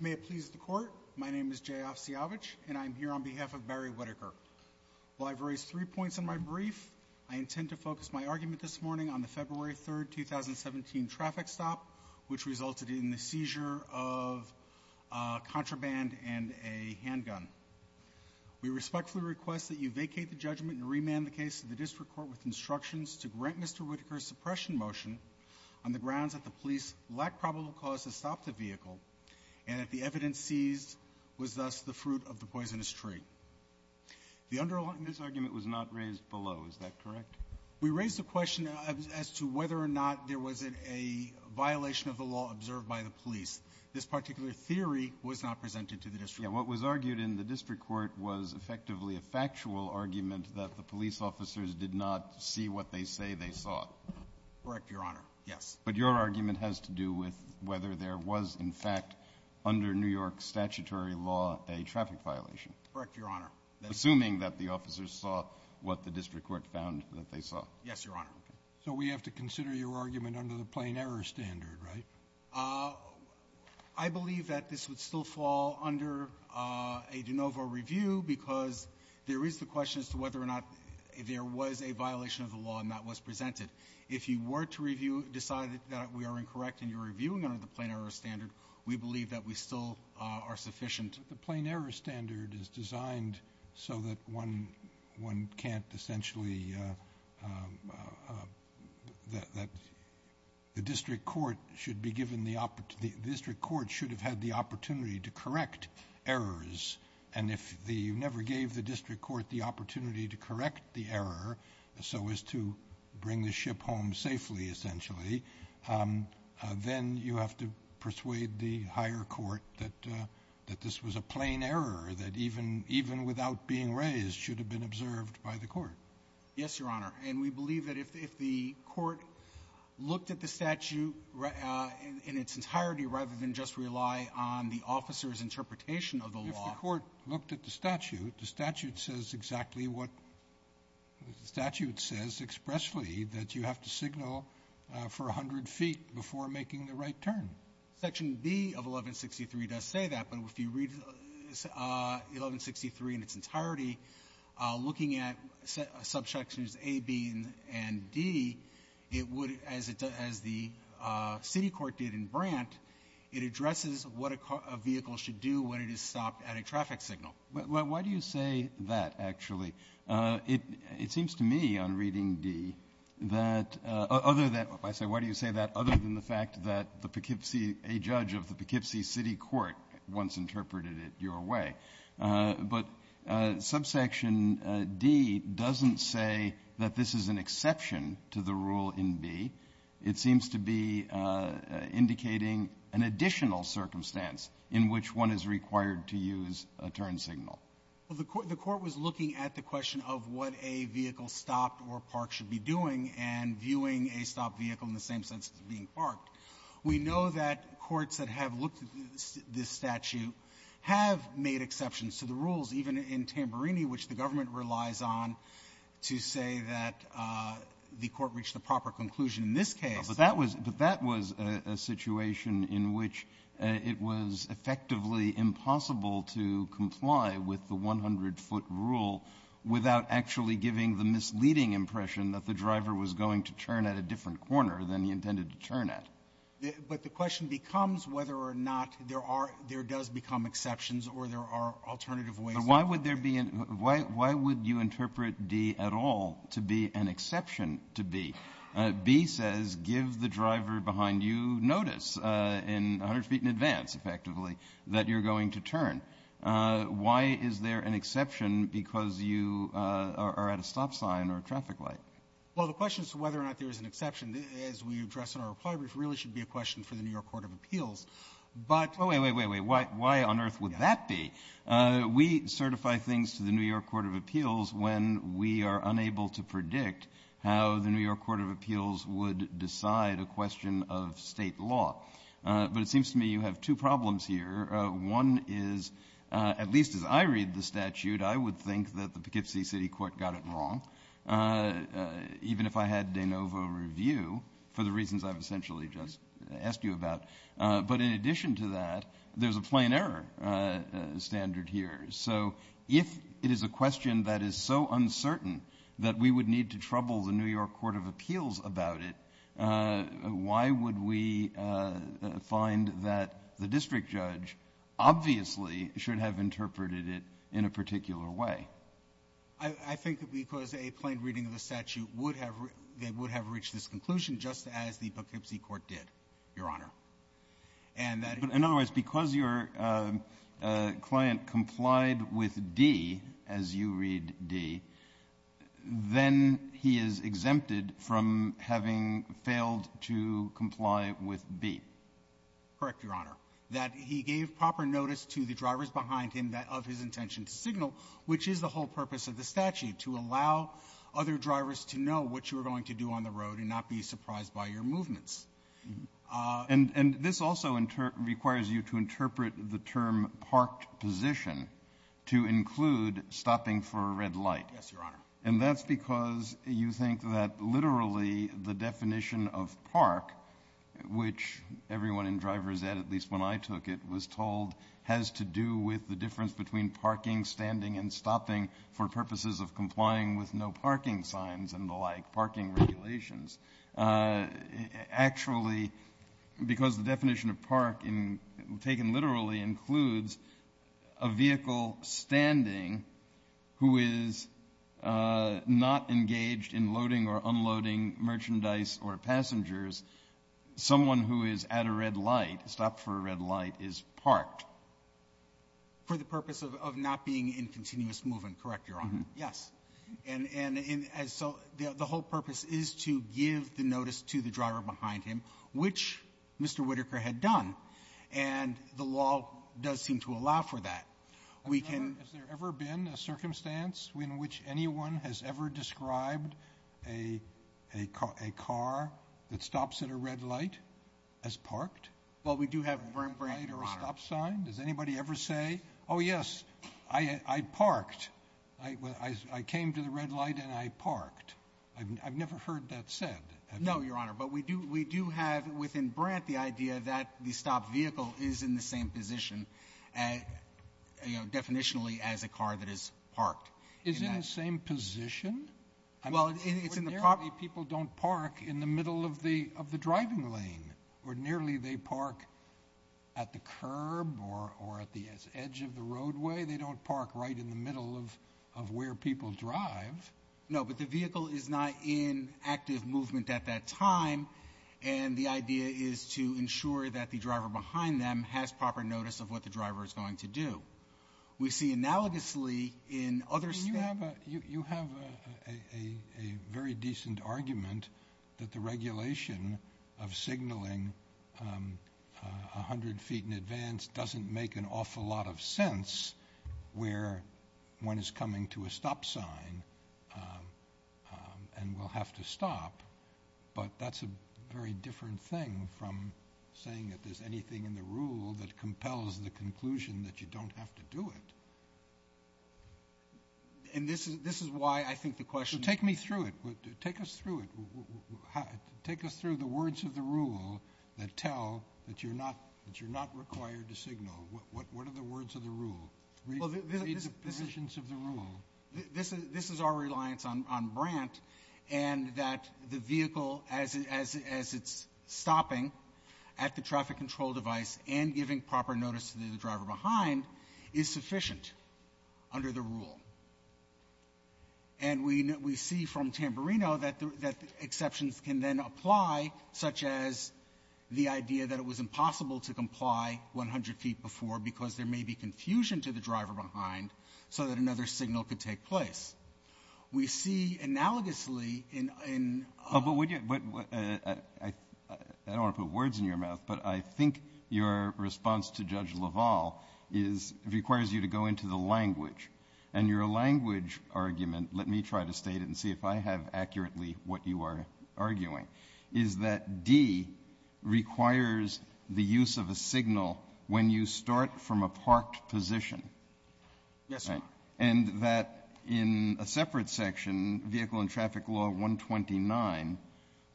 May it please the Court, my name is Jay Osiyovitch, and I am here on behalf of Barry Whitaker. While I have raised three points in my brief, I intend to focus my argument this morning on the February 3rd, 2017, traffic stop, which resulted in the seizure of a contraband and a handgun. We respectfully request that you vacate the judgment and remand the case to the district court with instructions to grant Mr. Whitaker's suppression motion on the grounds that the police lacked probable cause to stop the vehicle and that the evidence seized was thus the fruit of the poisonous tree. The underlying This argument was not raised below. Is that correct? We raised the question as to whether or not there was a violation of the law observed by the police. This particular theory was not presented to the district court. Yes. What was argued in the district court was effectively a factual argument that the police officers did not see what they say they saw. Correct, Your Honor. Yes. But your argument has to do with whether there was, in fact, under New York statutory law, a traffic violation. Correct, Your Honor. Assuming that the officers saw what the district court found that they saw. Yes, Your Honor. So we have to consider your argument under the plain-error standard, right? I believe that this would still fall under a de novo review because there is the question as to whether or not there was a violation of the law, and that was presented. If you were to review or decide that we are incorrect in your reviewing under the plain-error standard, we believe that we still are sufficient. The plain-error standard is designed so that one can't essentially, that the district court should be given the opportunity, the district court should have had the opportunity to correct errors. And if you never gave the district court the opportunity to correct the error so as to bring the ship home safely, essentially, then you have to persuade the higher court that this was a plain error that even without being raised should have been observed by the court. Yes, Your Honor. And we believe that if the court looked at the statute in its entirety rather than just rely on the officer's interpretation of the law — If the court looked at the statute, the statute says exactly what the statute says expressly, that you have to signal for 100 feet before making the right turn. Section B of 1163 does say that. But if you read 1163 in its entirety, looking at subsections A, B, and D, it would — as the city court did in Brant, it addresses what a vehicle should do when it is stopped at a traffic signal. Why do you say that, actually? It seems to me on reading D that — other than — I say, why do you say that other than the fact that the Poughkeepsie — a judge of the Poughkeepsie City Court once interpreted it your way. But subsection D doesn't say that this is an exception to the rule in B. It seems to be indicating an additional circumstance in which one is required to use a turn signal. Well, the court was looking at the question of what a vehicle stopped or parked should be doing and viewing a stopped vehicle in the same sense as being parked. We know that courts that have looked at this statute have made exceptions to the rules, even in Tamburini, which the government relies on to say that the court reached the proper conclusion in this case. But that was — but that was a situation in which it was effectively impossible to comply with the 100-foot rule without actually giving the misleading impression that the driver was going to turn at a different corner than he intended to turn at. But the question becomes whether or not there are — there does become exceptions or there are alternative ways of — But why would there be — why would you interpret D at all to be an exception to B? B says give the driver behind you notice in — 100 feet in advance, effectively, that you're going to turn. Why is there an exception because you are at a stop sign or a traffic light? Well, the question is whether or not there is an exception, as we address in our reply brief, really should be a question for the New York Court of Appeals. But — Wait, wait, wait, wait. Why on earth would that be? We certify things to the New York Court of Appeals when we are unable to predict how the New York Court of Appeals would decide a question of State law. But it seems to me you have two problems here. One is, at least as I read the statute, I would think that the Poughkeepsie City Court got it wrong, even if I had de novo review for the reasons I've essentially just asked you about. But in addition to that, there's a plain error standard here. So if it is a question that is so uncertain that we would need to trouble the New York Court of Appeals about it, why would we find that the district judge obviously should have interpreted it in a particular way? I think because a plain reading of the statute would have — they would have reached this conclusion just as the Poughkeepsie court did, Your Honor. And that — But in other words, because your client complied with D as you read D, then he is exempted from having failed to comply with B. Correct, Your Honor. That he gave proper notice to the drivers behind him of his intention to signal, which is the whole purpose of the statute, to allow other drivers to know what you were going to do on the road and not be surprised by your movements. And this also requires you to interpret the term parked position to include stopping for a red light. Yes, Your Honor. And that's because you think that literally the definition of park, which everyone in driver's ed, at least when I took it, was told has to do with the difference between parking, standing, and stopping for purposes of complying with no parking signs and the like, parking regulations. Actually, because the definition of park in — taken literally includes a vehicle standing who is not engaged in loading or unloading merchandise or passengers, someone who is at a red light, stopped for a red light, is parked. For the purpose of not being in continuous movement. Correct, Your Honor. Yes. And so the whole purpose is to give the notice to the driver behind him, which Mr. Whitaker had done. And the law does seem to allow for that. We can — Has there ever been a circumstance in which anyone has ever described a car that stops at a red light as parked? Well, we do have — A red light or a stop sign? Does anybody ever say, oh, yes, I parked, I came to the red light and I parked? I've never heard that said. No, Your Honor. But we do have within Brandt the idea that the stopped vehicle is in the same position, you know, definitionally, as a car that is parked. Is it in the same position? Well, it's in the — Ordinarily, people don't park in the middle of the driving lane. Ordinarily, they park at the curb or at the edge of the roadway. They don't park right in the middle of where people drive. No, but the vehicle is not in active movement at that time. And the idea is to ensure that the driver behind them has proper notice of what the driver is going to do. We see analogously in other — You have a very decent argument that the regulation of signaling 100 feet in advance doesn't make an awful lot of sense where one is coming to a stop sign and will have to stop. But that's a very different thing from saying that there's anything in the rule that compels the conclusion that you don't have to do it. And this is why I think the question — So take me through it. Take us through it. Take us through the words of the rule that tell that you're not — that you're not required to signal. What are the words of the rule? Read the provisions of the rule. This is our reliance on Brandt, and that the vehicle, as it's stopping at the traffic control device and giving proper notice to the driver behind, is sufficient under the rule. And we see from Tamburino that exceptions can then apply, such as the idea that it was impossible to comply 100 feet before because there may be confusion to the driver behind so that another signal could take place. We see analogously in — I don't want to put words in your mouth, but I think your response to Judge LaValle is — requires you to go into the language. And your language argument — let me try to state it and see if I have accurately what you are arguing — is that D requires the use of a signal when you start from a parked position. Yes, Your Honor. And that in a separate section, Vehicle and Traffic Law 129,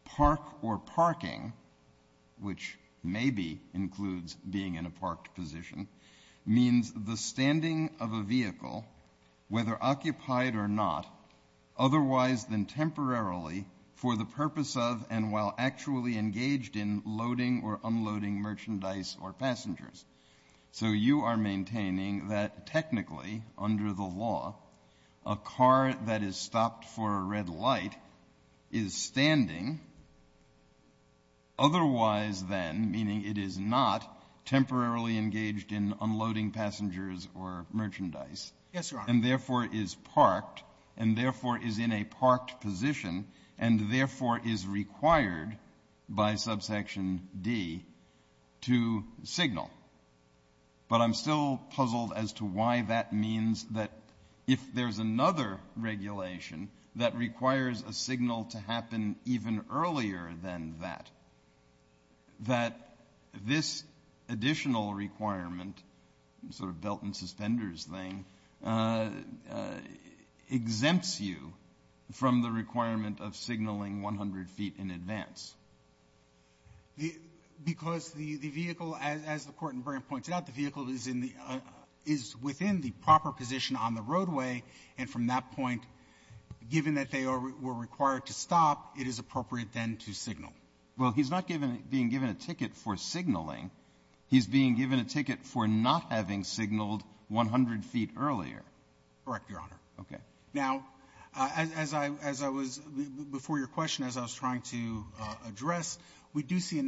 park or parking — which maybe includes being in a parked position — means the standing of a vehicle, whether occupied or not, otherwise than temporarily, for the purpose of and while actually engaged in loading or unloading merchandise or passengers. So you are maintaining that technically, under the law, a car that is stopped for a standing, otherwise than, meaning it is not, temporarily engaged in unloading passengers or merchandise. Yes, Your Honor. And therefore, is parked, and therefore, is in a parked position, and therefore, is required by subsection D to signal. But I'm still puzzled as to why that means that if there is another regulation that requires a signal to happen even earlier than that, that this additional requirement, sort of belt and suspenders thing, exempts you from the requirement of signaling 100 feet in advance. Because the vehicle, as the Court in Bryant points out, the vehicle is in the — is in a parked position on the roadway, and from that point, given that they are — were required to stop, it is appropriate then to signal. Well, he's not given — being given a ticket for signaling. He's being given a ticket for not having signaled 100 feet earlier. Correct, Your Honor. Okay. Now, as I — as I was — before your question, as I was trying to address, we do see that it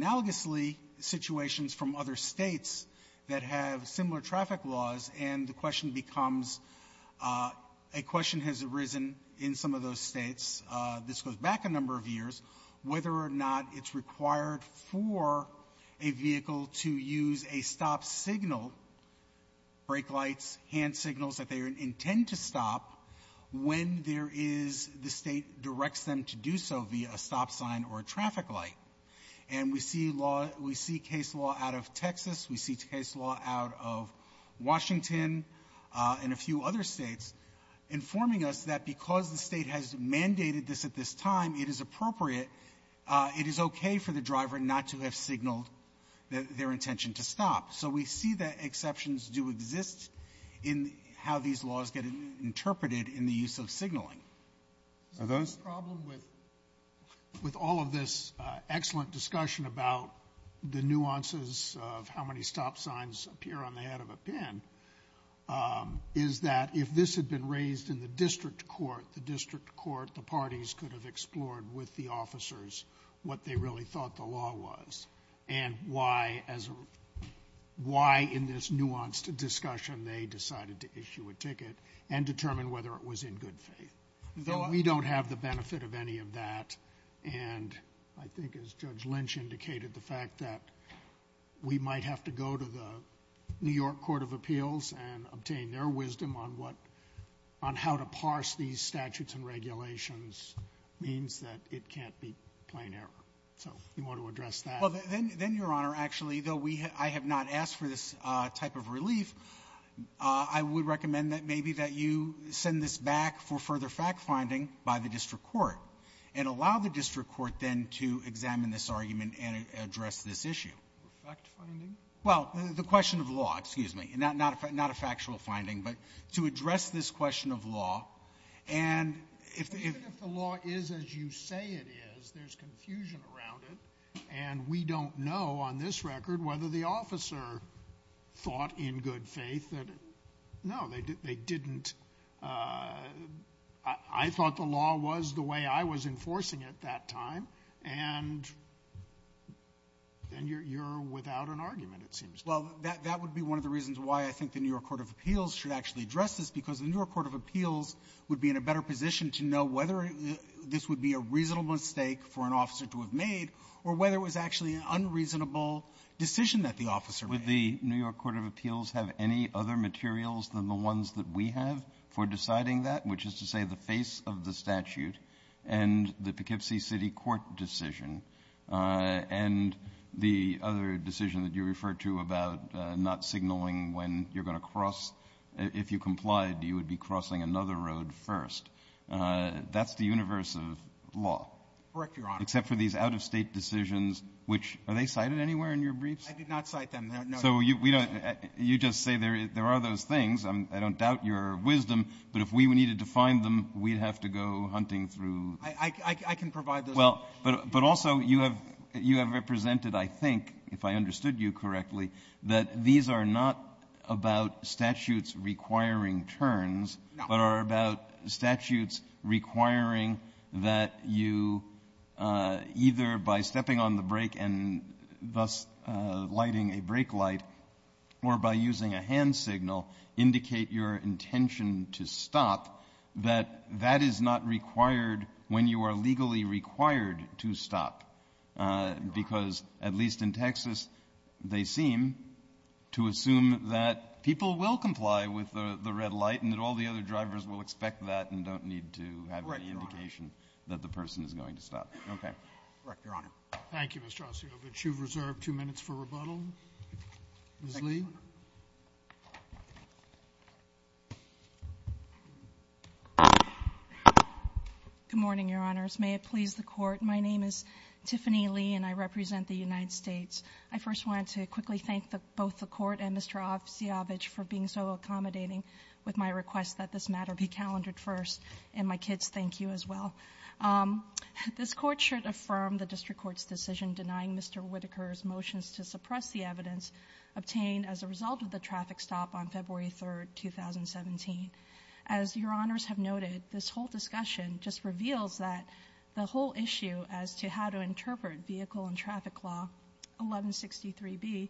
becomes — a question has arisen in some of those States, this goes back a number of years, whether or not it's required for a vehicle to use a stop signal, brake lights, hand signals, that they intend to stop when there is — the State directs them to do so via a stop sign or a traffic light. And we see law — we see case law out of Texas. We see case law out of Washington and a few other States informing us that because the State has mandated this at this time, it is appropriate, it is okay for the driver not to have signaled their intention to stop. So we see that exceptions do exist in how these laws get interpreted in the use of signaling. Are those — I'm just curious of how many stop signs appear on the head of a pin, is that if this had been raised in the district court, the district court, the parties could have explored with the officers what they really thought the law was and why, as a — why, in this nuanced discussion, they decided to issue a ticket and determine whether it was in good faith. Though we don't have the benefit of any of that, and I think, as Judge Lynch indicated, the fact that we might have to go to the New York Court of Appeals and obtain their wisdom on what — on how to parse these statutes and regulations means that it can't be plain error. So you want to address that? Well, then, Your Honor, actually, though we — I have not asked for this type of relief, I would recommend that maybe that you send this back for further fact-finding by the district court, and allow the district court then to examine this argument and address this issue. Fact-finding? Well, the question of law, excuse me. Not a factual finding, but to address this question of law, and if — Even if the law is as you say it is, there's confusion around it, and we don't know, on this record, whether the officer thought in good faith that — no, they didn't — I mean, they thought the law was the way I was enforcing it that time, and you're without an argument, it seems. Well, that would be one of the reasons why I think the New York Court of Appeals should actually address this, because the New York Court of Appeals would be in a better position to know whether this would be a reasonable mistake for an officer to have made, or whether it was actually an unreasonable decision that the officer made. Would the New York Court of Appeals have any other materials than the ones that we have for deciding that, which is to say the face of the statute and the Poughkeepsie City Court decision, and the other decision that you referred to about not signaling when you're going to cross — if you complied, you would be crossing another road first? That's the universe of law. Correct, Your Honor. Except for these out-of-state decisions, which — are they cited anywhere in your briefs? I did not cite them, no. So we don't — you just say there are those things. I don't doubt your wisdom, but if we needed to find them, we'd have to go hunting through. I can provide those. Well, but also, you have represented, I think, if I understood you correctly, that these are not about statutes requiring turns, but are about statutes requiring that you either, by stepping on the brake and thus lighting a brake light, are going to stop, or by using a hand signal, indicate your intention to stop, that that is not required when you are legally required to stop. Because, at least in Texas, they seem to assume that people will comply with the red light and that all the other drivers will expect that and don't need to have any indication that the person is going to stop. Correct, Your Honor. Thank you, Mr. Ossoff. But you've reserved two minutes for rebuttal. Ms. Lee. Good morning, Your Honors. May it please the Court. My name is Tiffany Lee, and I represent the United States. I first wanted to quickly thank both the Court and Mr. Ossoff for being so accommodating with my request that this matter be calendared first, and my kids thank you as well. This Court should affirm the District Court's decision denying Mr. Whitaker's motions to suppress the evidence obtained as a result of the traffic stop on February 3, 2017. As Your Honors have noted, this whole discussion just reveals that the whole issue as to how to interpret Vehicle and Traffic Law 1163B,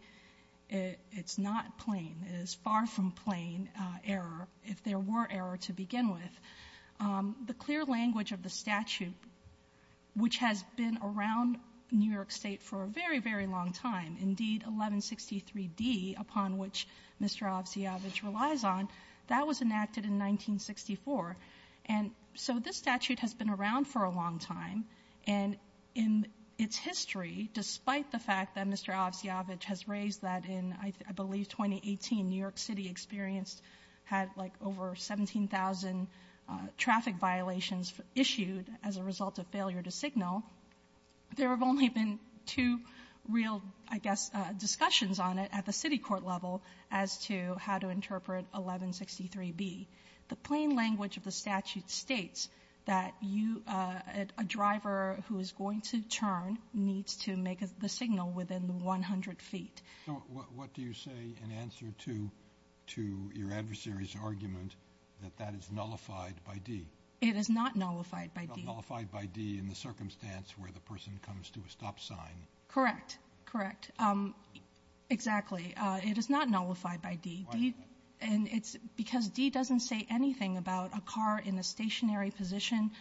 it's not plain, it is far from plain error, if there were error to begin with. The clear language of the statute, which has been around New York State for a very, very long time, indeed 1163D, upon which Mr. Ovsjavic relies on, that was enacted in 1964. And so this statute has been around for a long time, and in its history, despite the fact that Mr. Ovsjavic has raised that in, I believe, 2018, New York City experienced, had like over 17,000 traffic violations issued as a result of failure to signal, there have only been two real, I guess, discussions on it at the city court level as to how to interpret 1163B. The plain language of the statute states that a driver who is going to turn needs to make the signal within 100 feet. So what do you say in answer to your adversary's argument that that is nullified by D? It is not nullified by D. Not nullified by D in the circumstance where the person comes to a stop sign. Correct. Correct. Exactly. It is not nullified by D. Why is that? And it's because D doesn't say anything about a car in a stationary position.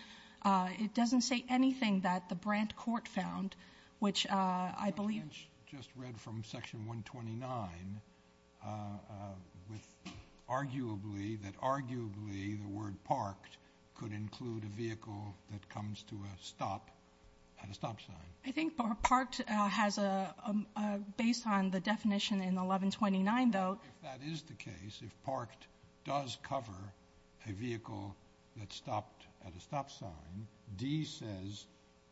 It doesn't say anything that the Brandt court found, which I believe... I just read from section 129 that arguably the word parked could include a vehicle that comes to a stop at a stop sign. I think parked has a... based on the definition in 1129, though... If that is the case, if parked does cover a vehicle that stopped at a stop sign, D says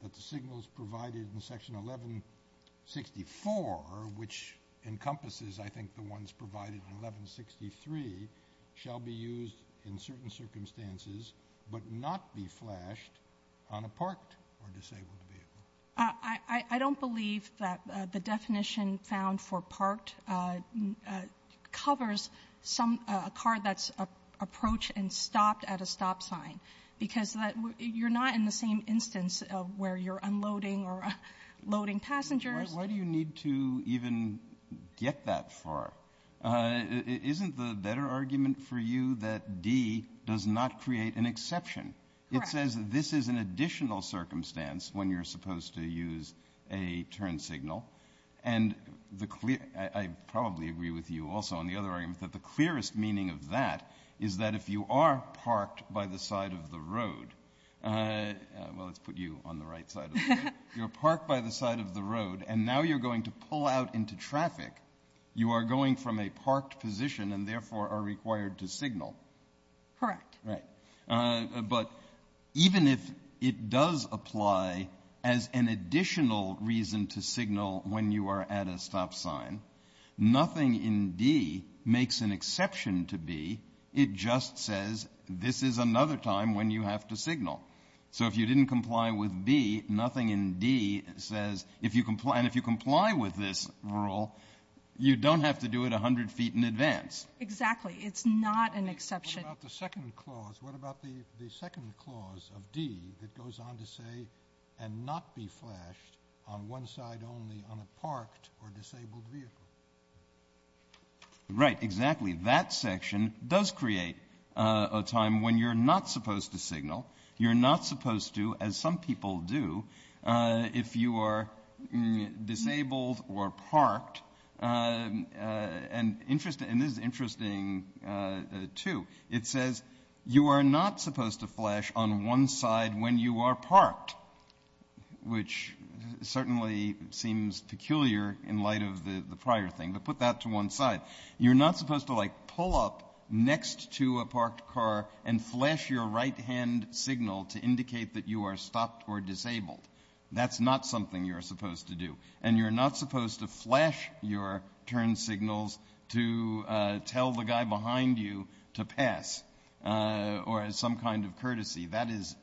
that the signals provided in section 1164, which encompasses, I think, the ones provided in 1163, shall be used in certain circumstances, but not be flashed on a parked or disabled vehicle. I don't believe that the definition found for parked covers a car that's approached and stopped at a stop sign. Because you're not in the same instance where you're unloading or loading passengers. Why do you need to even get that far? Isn't the better argument for you that D does not create an exception? Correct. It says this is an additional circumstance when you're supposed to use a turn signal. And I probably agree with you also on the other argument that the clearest meaning of that is that if you are parked by the side of the road, well, let's put you on the right side of the road, you're parked by the side of the road and now you're going to pull out into traffic, you are going from a parked position and therefore are required to signal. Correct. Right. But even if it does apply as an additional reason to signal when you are at a stop sign, nothing in D makes an exception to B. It just says this is another time when you have to signal. So if you didn't comply with B, nothing in D says if you comply with this rule, you don't have to do it 100 feet in advance. Exactly. It's not an exception. What about the second clause? Of D, it goes on to say and not be flashed on one side only on a parked or disabled vehicle. Right, exactly. That section does create a time when you're not supposed to signal. You're not supposed to, as some people do, if you are disabled or parked. And this is interesting, too. It says you are not supposed to flash on one side when you are parked, which certainly seems peculiar in light of the prior thing. But put that to one side. You're not supposed to, like, pull up next to a parked car and flash your right-hand signal to indicate that you are stopped or disabled. That's not something you're supposed to do. And you're not supposed to flash your turn signals to tell the guy behind you to pass or as some kind of courtesy. That is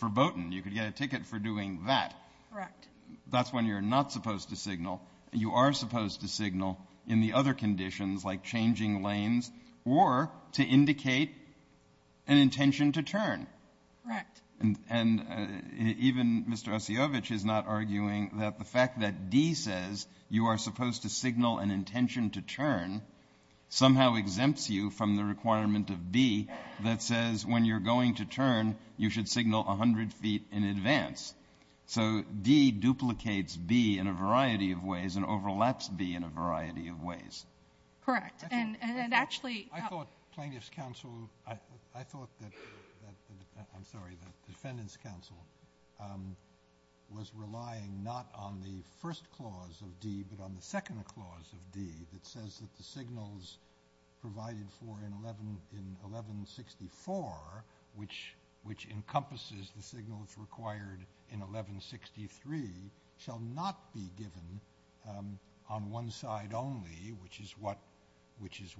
verboten. You could get a ticket for doing that. Correct. That's when you're not supposed to signal. You are supposed to signal in the other conditions, like changing lanes or to indicate an intention to turn. Correct. And even Mr. Osiyovitch is not arguing that the fact that D says you are supposed to signal an intention to turn somehow exempts you from the requirement of B that says when you're going to turn, you should signal 100 feet in advance. So D duplicates B in a variety of ways and overlaps B in a variety of ways. Correct. And actually — Plaintiff's counsel, I thought that — I'm sorry, the defendant's counsel was relying not on the first clause of D but on the second clause of D that says that the signals provided for in 1164, which encompasses the signals required in 1163, shall not be given on one side only, which is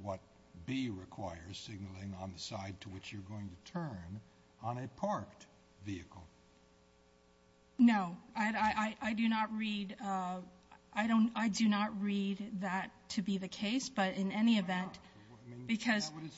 what B requires, signaling on the side to which you're going to turn on a parked vehicle. No. I do not read that to be the case, but in any event, because — It's not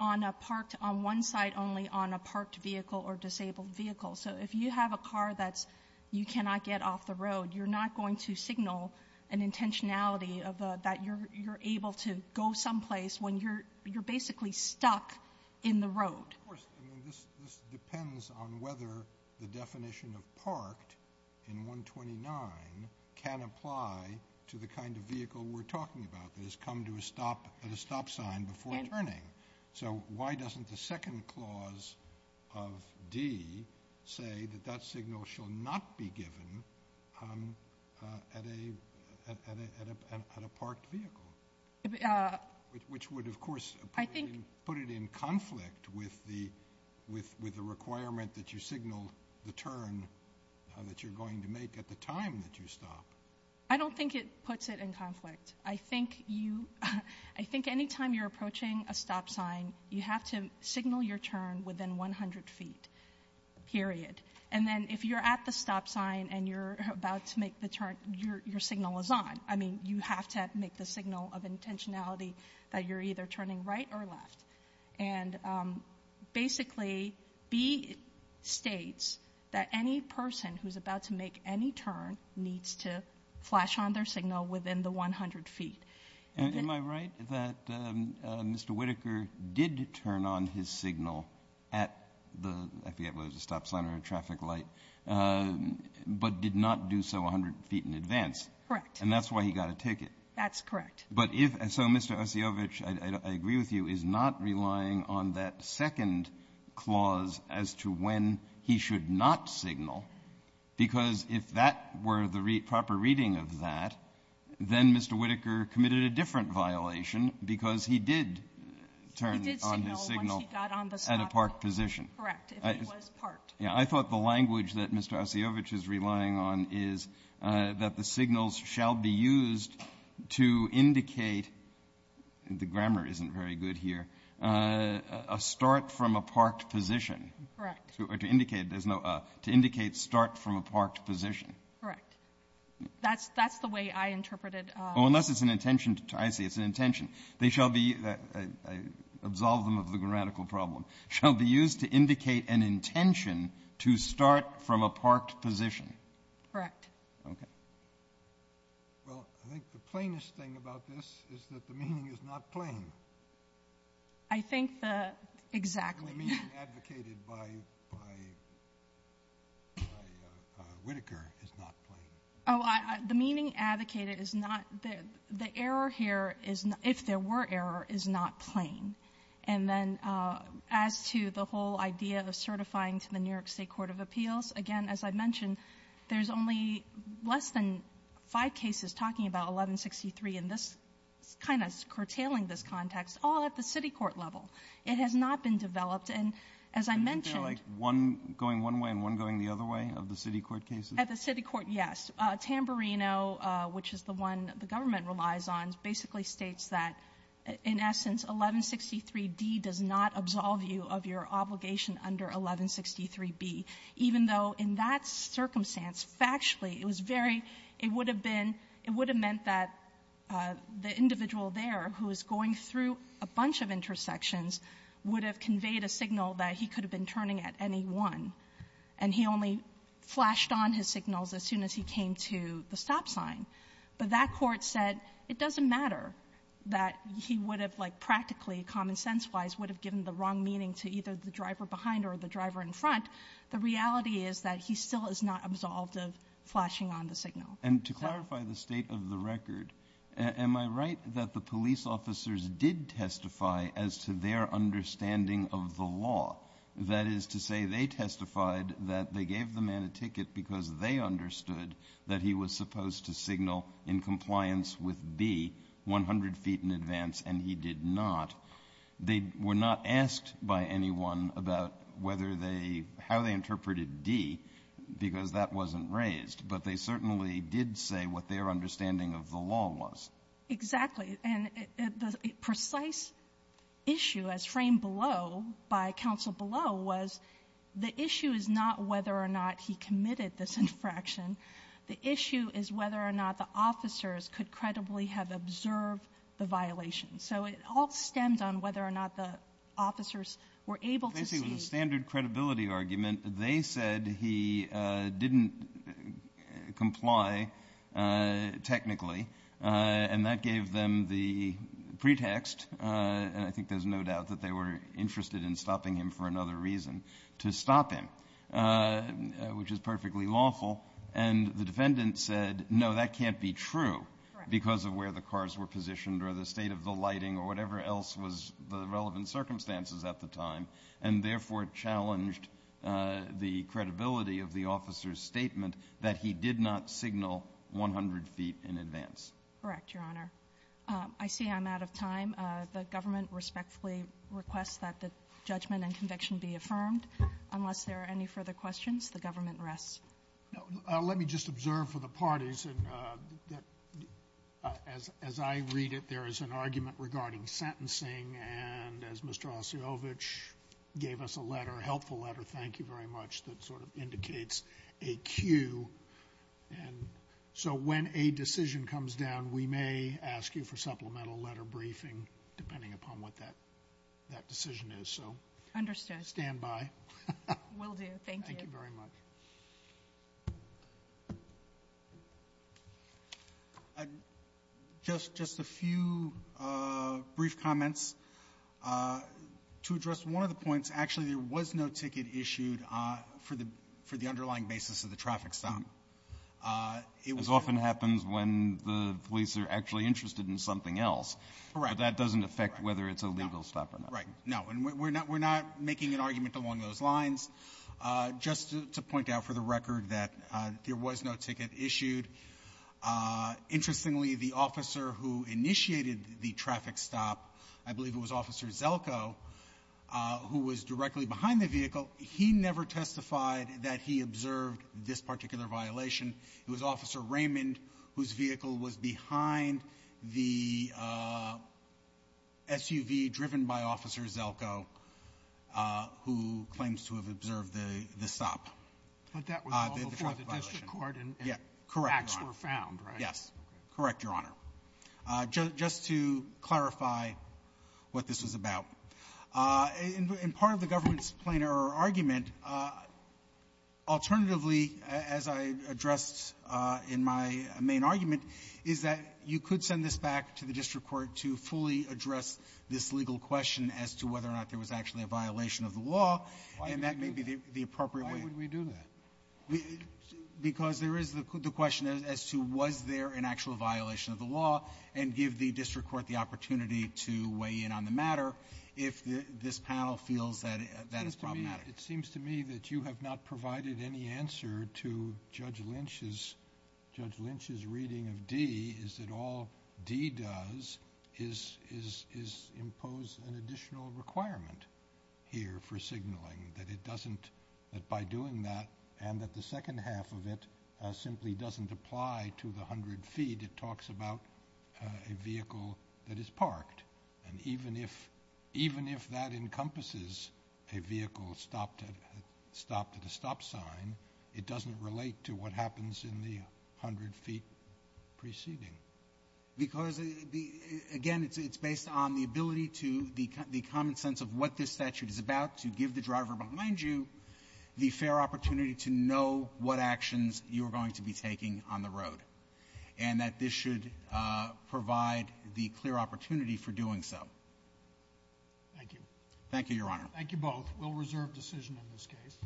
on a parked — on one side only on a parked vehicle or disabled vehicle. So if you have a car that's — you cannot get off the road, you're not going to signal an intentionality of a — that you're able to go someplace when you're basically stuck in the road. Of course. I mean, this depends on whether the definition of parked in 129 can apply to the kind of vehicle we're talking about that has come to a stop at a stop sign before turning. So why doesn't the second clause of D say that that signal shall not be given at a — at a — at a parked vehicle, which would, of course, put it in conflict with the — with the requirement that you signal the turn that you're going to make at the time that you stop? I don't think it puts it in conflict. I think you — I think any time you're approaching a stop sign, you have to signal your turn within 100 feet, period. And then if you're at the stop sign and you're about to make the turn, your signal is on. I mean, you have to make the signal of intentionality that you're either turning right or left. And basically, B states that any person who's about to make any turn needs to flash on their signal within the 100 feet. And am I right that Mr. Whitaker did turn on his signal at the — I forget whether it was a stop sign or a traffic light, but did not do so 100 feet in advance? Correct. And that's why he got a ticket. That's correct. But if — so Mr. Osiyovitch, I agree with you, is not relying on that second clause as to when he should not signal, because if that were the proper reading of that, then Mr. Whitaker committed a different violation because he did turn on his signal He did signal once he got on the stop — correct, if he was parked. Yeah, I thought the language that Mr. Osiyovitch is relying on is that the signals shall be used to indicate — the grammar isn't very good here — a start from a parked position. Correct. Or to indicate there's no a. To indicate start from a parked position. Correct. That's the way I interpreted — Oh, unless it's an intention to — I see, it's an intention. They shall be — I absolved them of the grammatical problem. Shall be used to indicate an intention to start from a parked position. Correct. Okay. Well, I think the plainest thing about this is that the meaning is not plain. I think the — exactly. The meaning advocated by Whitaker is not plain. Oh, the meaning advocated is not — the error here is — if there were error, is not plain. And then as to the whole idea of certifying to the New York State Court of Appeals, again, as I mentioned, there's only less than five cases talking about 1163 in this — kind of curtailing this context, all at the city court level. It has not been developed. And as I mentioned — Isn't there like one going one way and one going the other way of the city court cases? At the city court, yes. Tamburino, which is the one the government relies on, basically states that, in essence, 1163d does not absolve you of your obligation under 1163b, even though in that circumstance, factually, it was very — it would have been — it would have meant that the individual there who is going through a bunch of intersections would have conveyed a signal that he could have been turning at any one, and he only flashed on his signals as soon as he came to the stop sign. But that court said it doesn't matter that he would have, like, practically, common-sense-wise, would have given the wrong meaning to either the driver behind or the driver in front. The reality is that he still is not absolved of flashing on the signal. And to clarify the state of the record, am I right that the police officers did testify as to their understanding of the law? That is to say, they testified that they gave the man a ticket because they understood that he was supposed to signal in compliance with b 100 feet in advance, and he did not. They were not asked by anyone about whether they — how they interpreted d, because that wasn't raised. But they certainly did say what their understanding of the law was. Exactly. And the precise issue, as framed below by counsel below, was the issue is not whether or not he committed this infraction. The issue is whether or not the officers could credibly have observed the violation. So it all stems on whether or not the officers were able to see — Basically, it was a standard credibility argument. They said he didn't comply technically, and that gave them the pretext — and I think there's no doubt that they were interested in stopping him for another reason — to stop him. Which is perfectly lawful. And the defendant said, no, that can't be true because of where the cars were positioned or the state of the lighting or whatever else was the relevant circumstances at the time, and therefore challenged the credibility of the officer's statement that he did not signal 100 feet in advance. Correct, Your Honor. I see I'm out of time. The government respectfully requests that the judgment and conviction be affirmed. Unless there are any further questions, the government rests. No. Let me just observe for the parties. And as I read it, there is an argument regarding sentencing. And as Mr. Osiyovitch gave us a letter, a helpful letter, thank you very much, that sort of indicates a cue. And so when a decision comes down, we may ask you for supplemental letter briefing depending upon what that decision is. So — Understood. Stand by. Will do. Thank you. Thank you very much. Just a few brief comments. To address one of the points, actually, there was no ticket issued for the underlying basis of the traffic stop. As often happens when the police are actually interested in something else. Correct. But that doesn't affect whether it's a legal stop or not. Right. No. We're not making an argument along those lines. Just to point out for the record that there was no ticket issued. Interestingly, the officer who initiated the traffic stop, I believe it was Officer Zelko, who was directly behind the vehicle, he never testified that he observed this particular violation. It was Officer Raymond whose vehicle was behind the SUV driven by Officer Zelko who claims to have observed the stop. But that was all before the district court and — Yeah. Correct, Your Honor. — facts were found, right? Yes. Correct, Your Honor. Just to clarify what this was about, in part of the government's plain-error argument, alternatively, as I addressed in my main argument, is that you could send this back to the district court to fully address this legal question as to whether or not there was actually a violation of the law. And that may be the appropriate way. Why would we do that? Because there is the question as to was there an actual violation of the law, and give the district court the opportunity to weigh in on the matter if this panel feels that it's problematic. It seems to me that you have not provided any answer to Judge Lynch's — Judge Lynch's reading of D is that all D does is impose an additional requirement here for signaling, that it doesn't — that by doing that and that the second half of it simply doesn't apply to the 100 feet, it talks about a vehicle that is parked. And even if — even if that encompasses a vehicle stopped at a stop sign, it doesn't relate to what happens in the 100 feet preceding. Because, again, it's based on the ability to — the common sense of what this statute is about to give the driver behind you the fair opportunity to know what actions you are going to be taking on the road, and that this should provide the clear opportunity for doing so. Thank you. Thank you, Your Honor. Thank you both. We'll reserve decision in this case.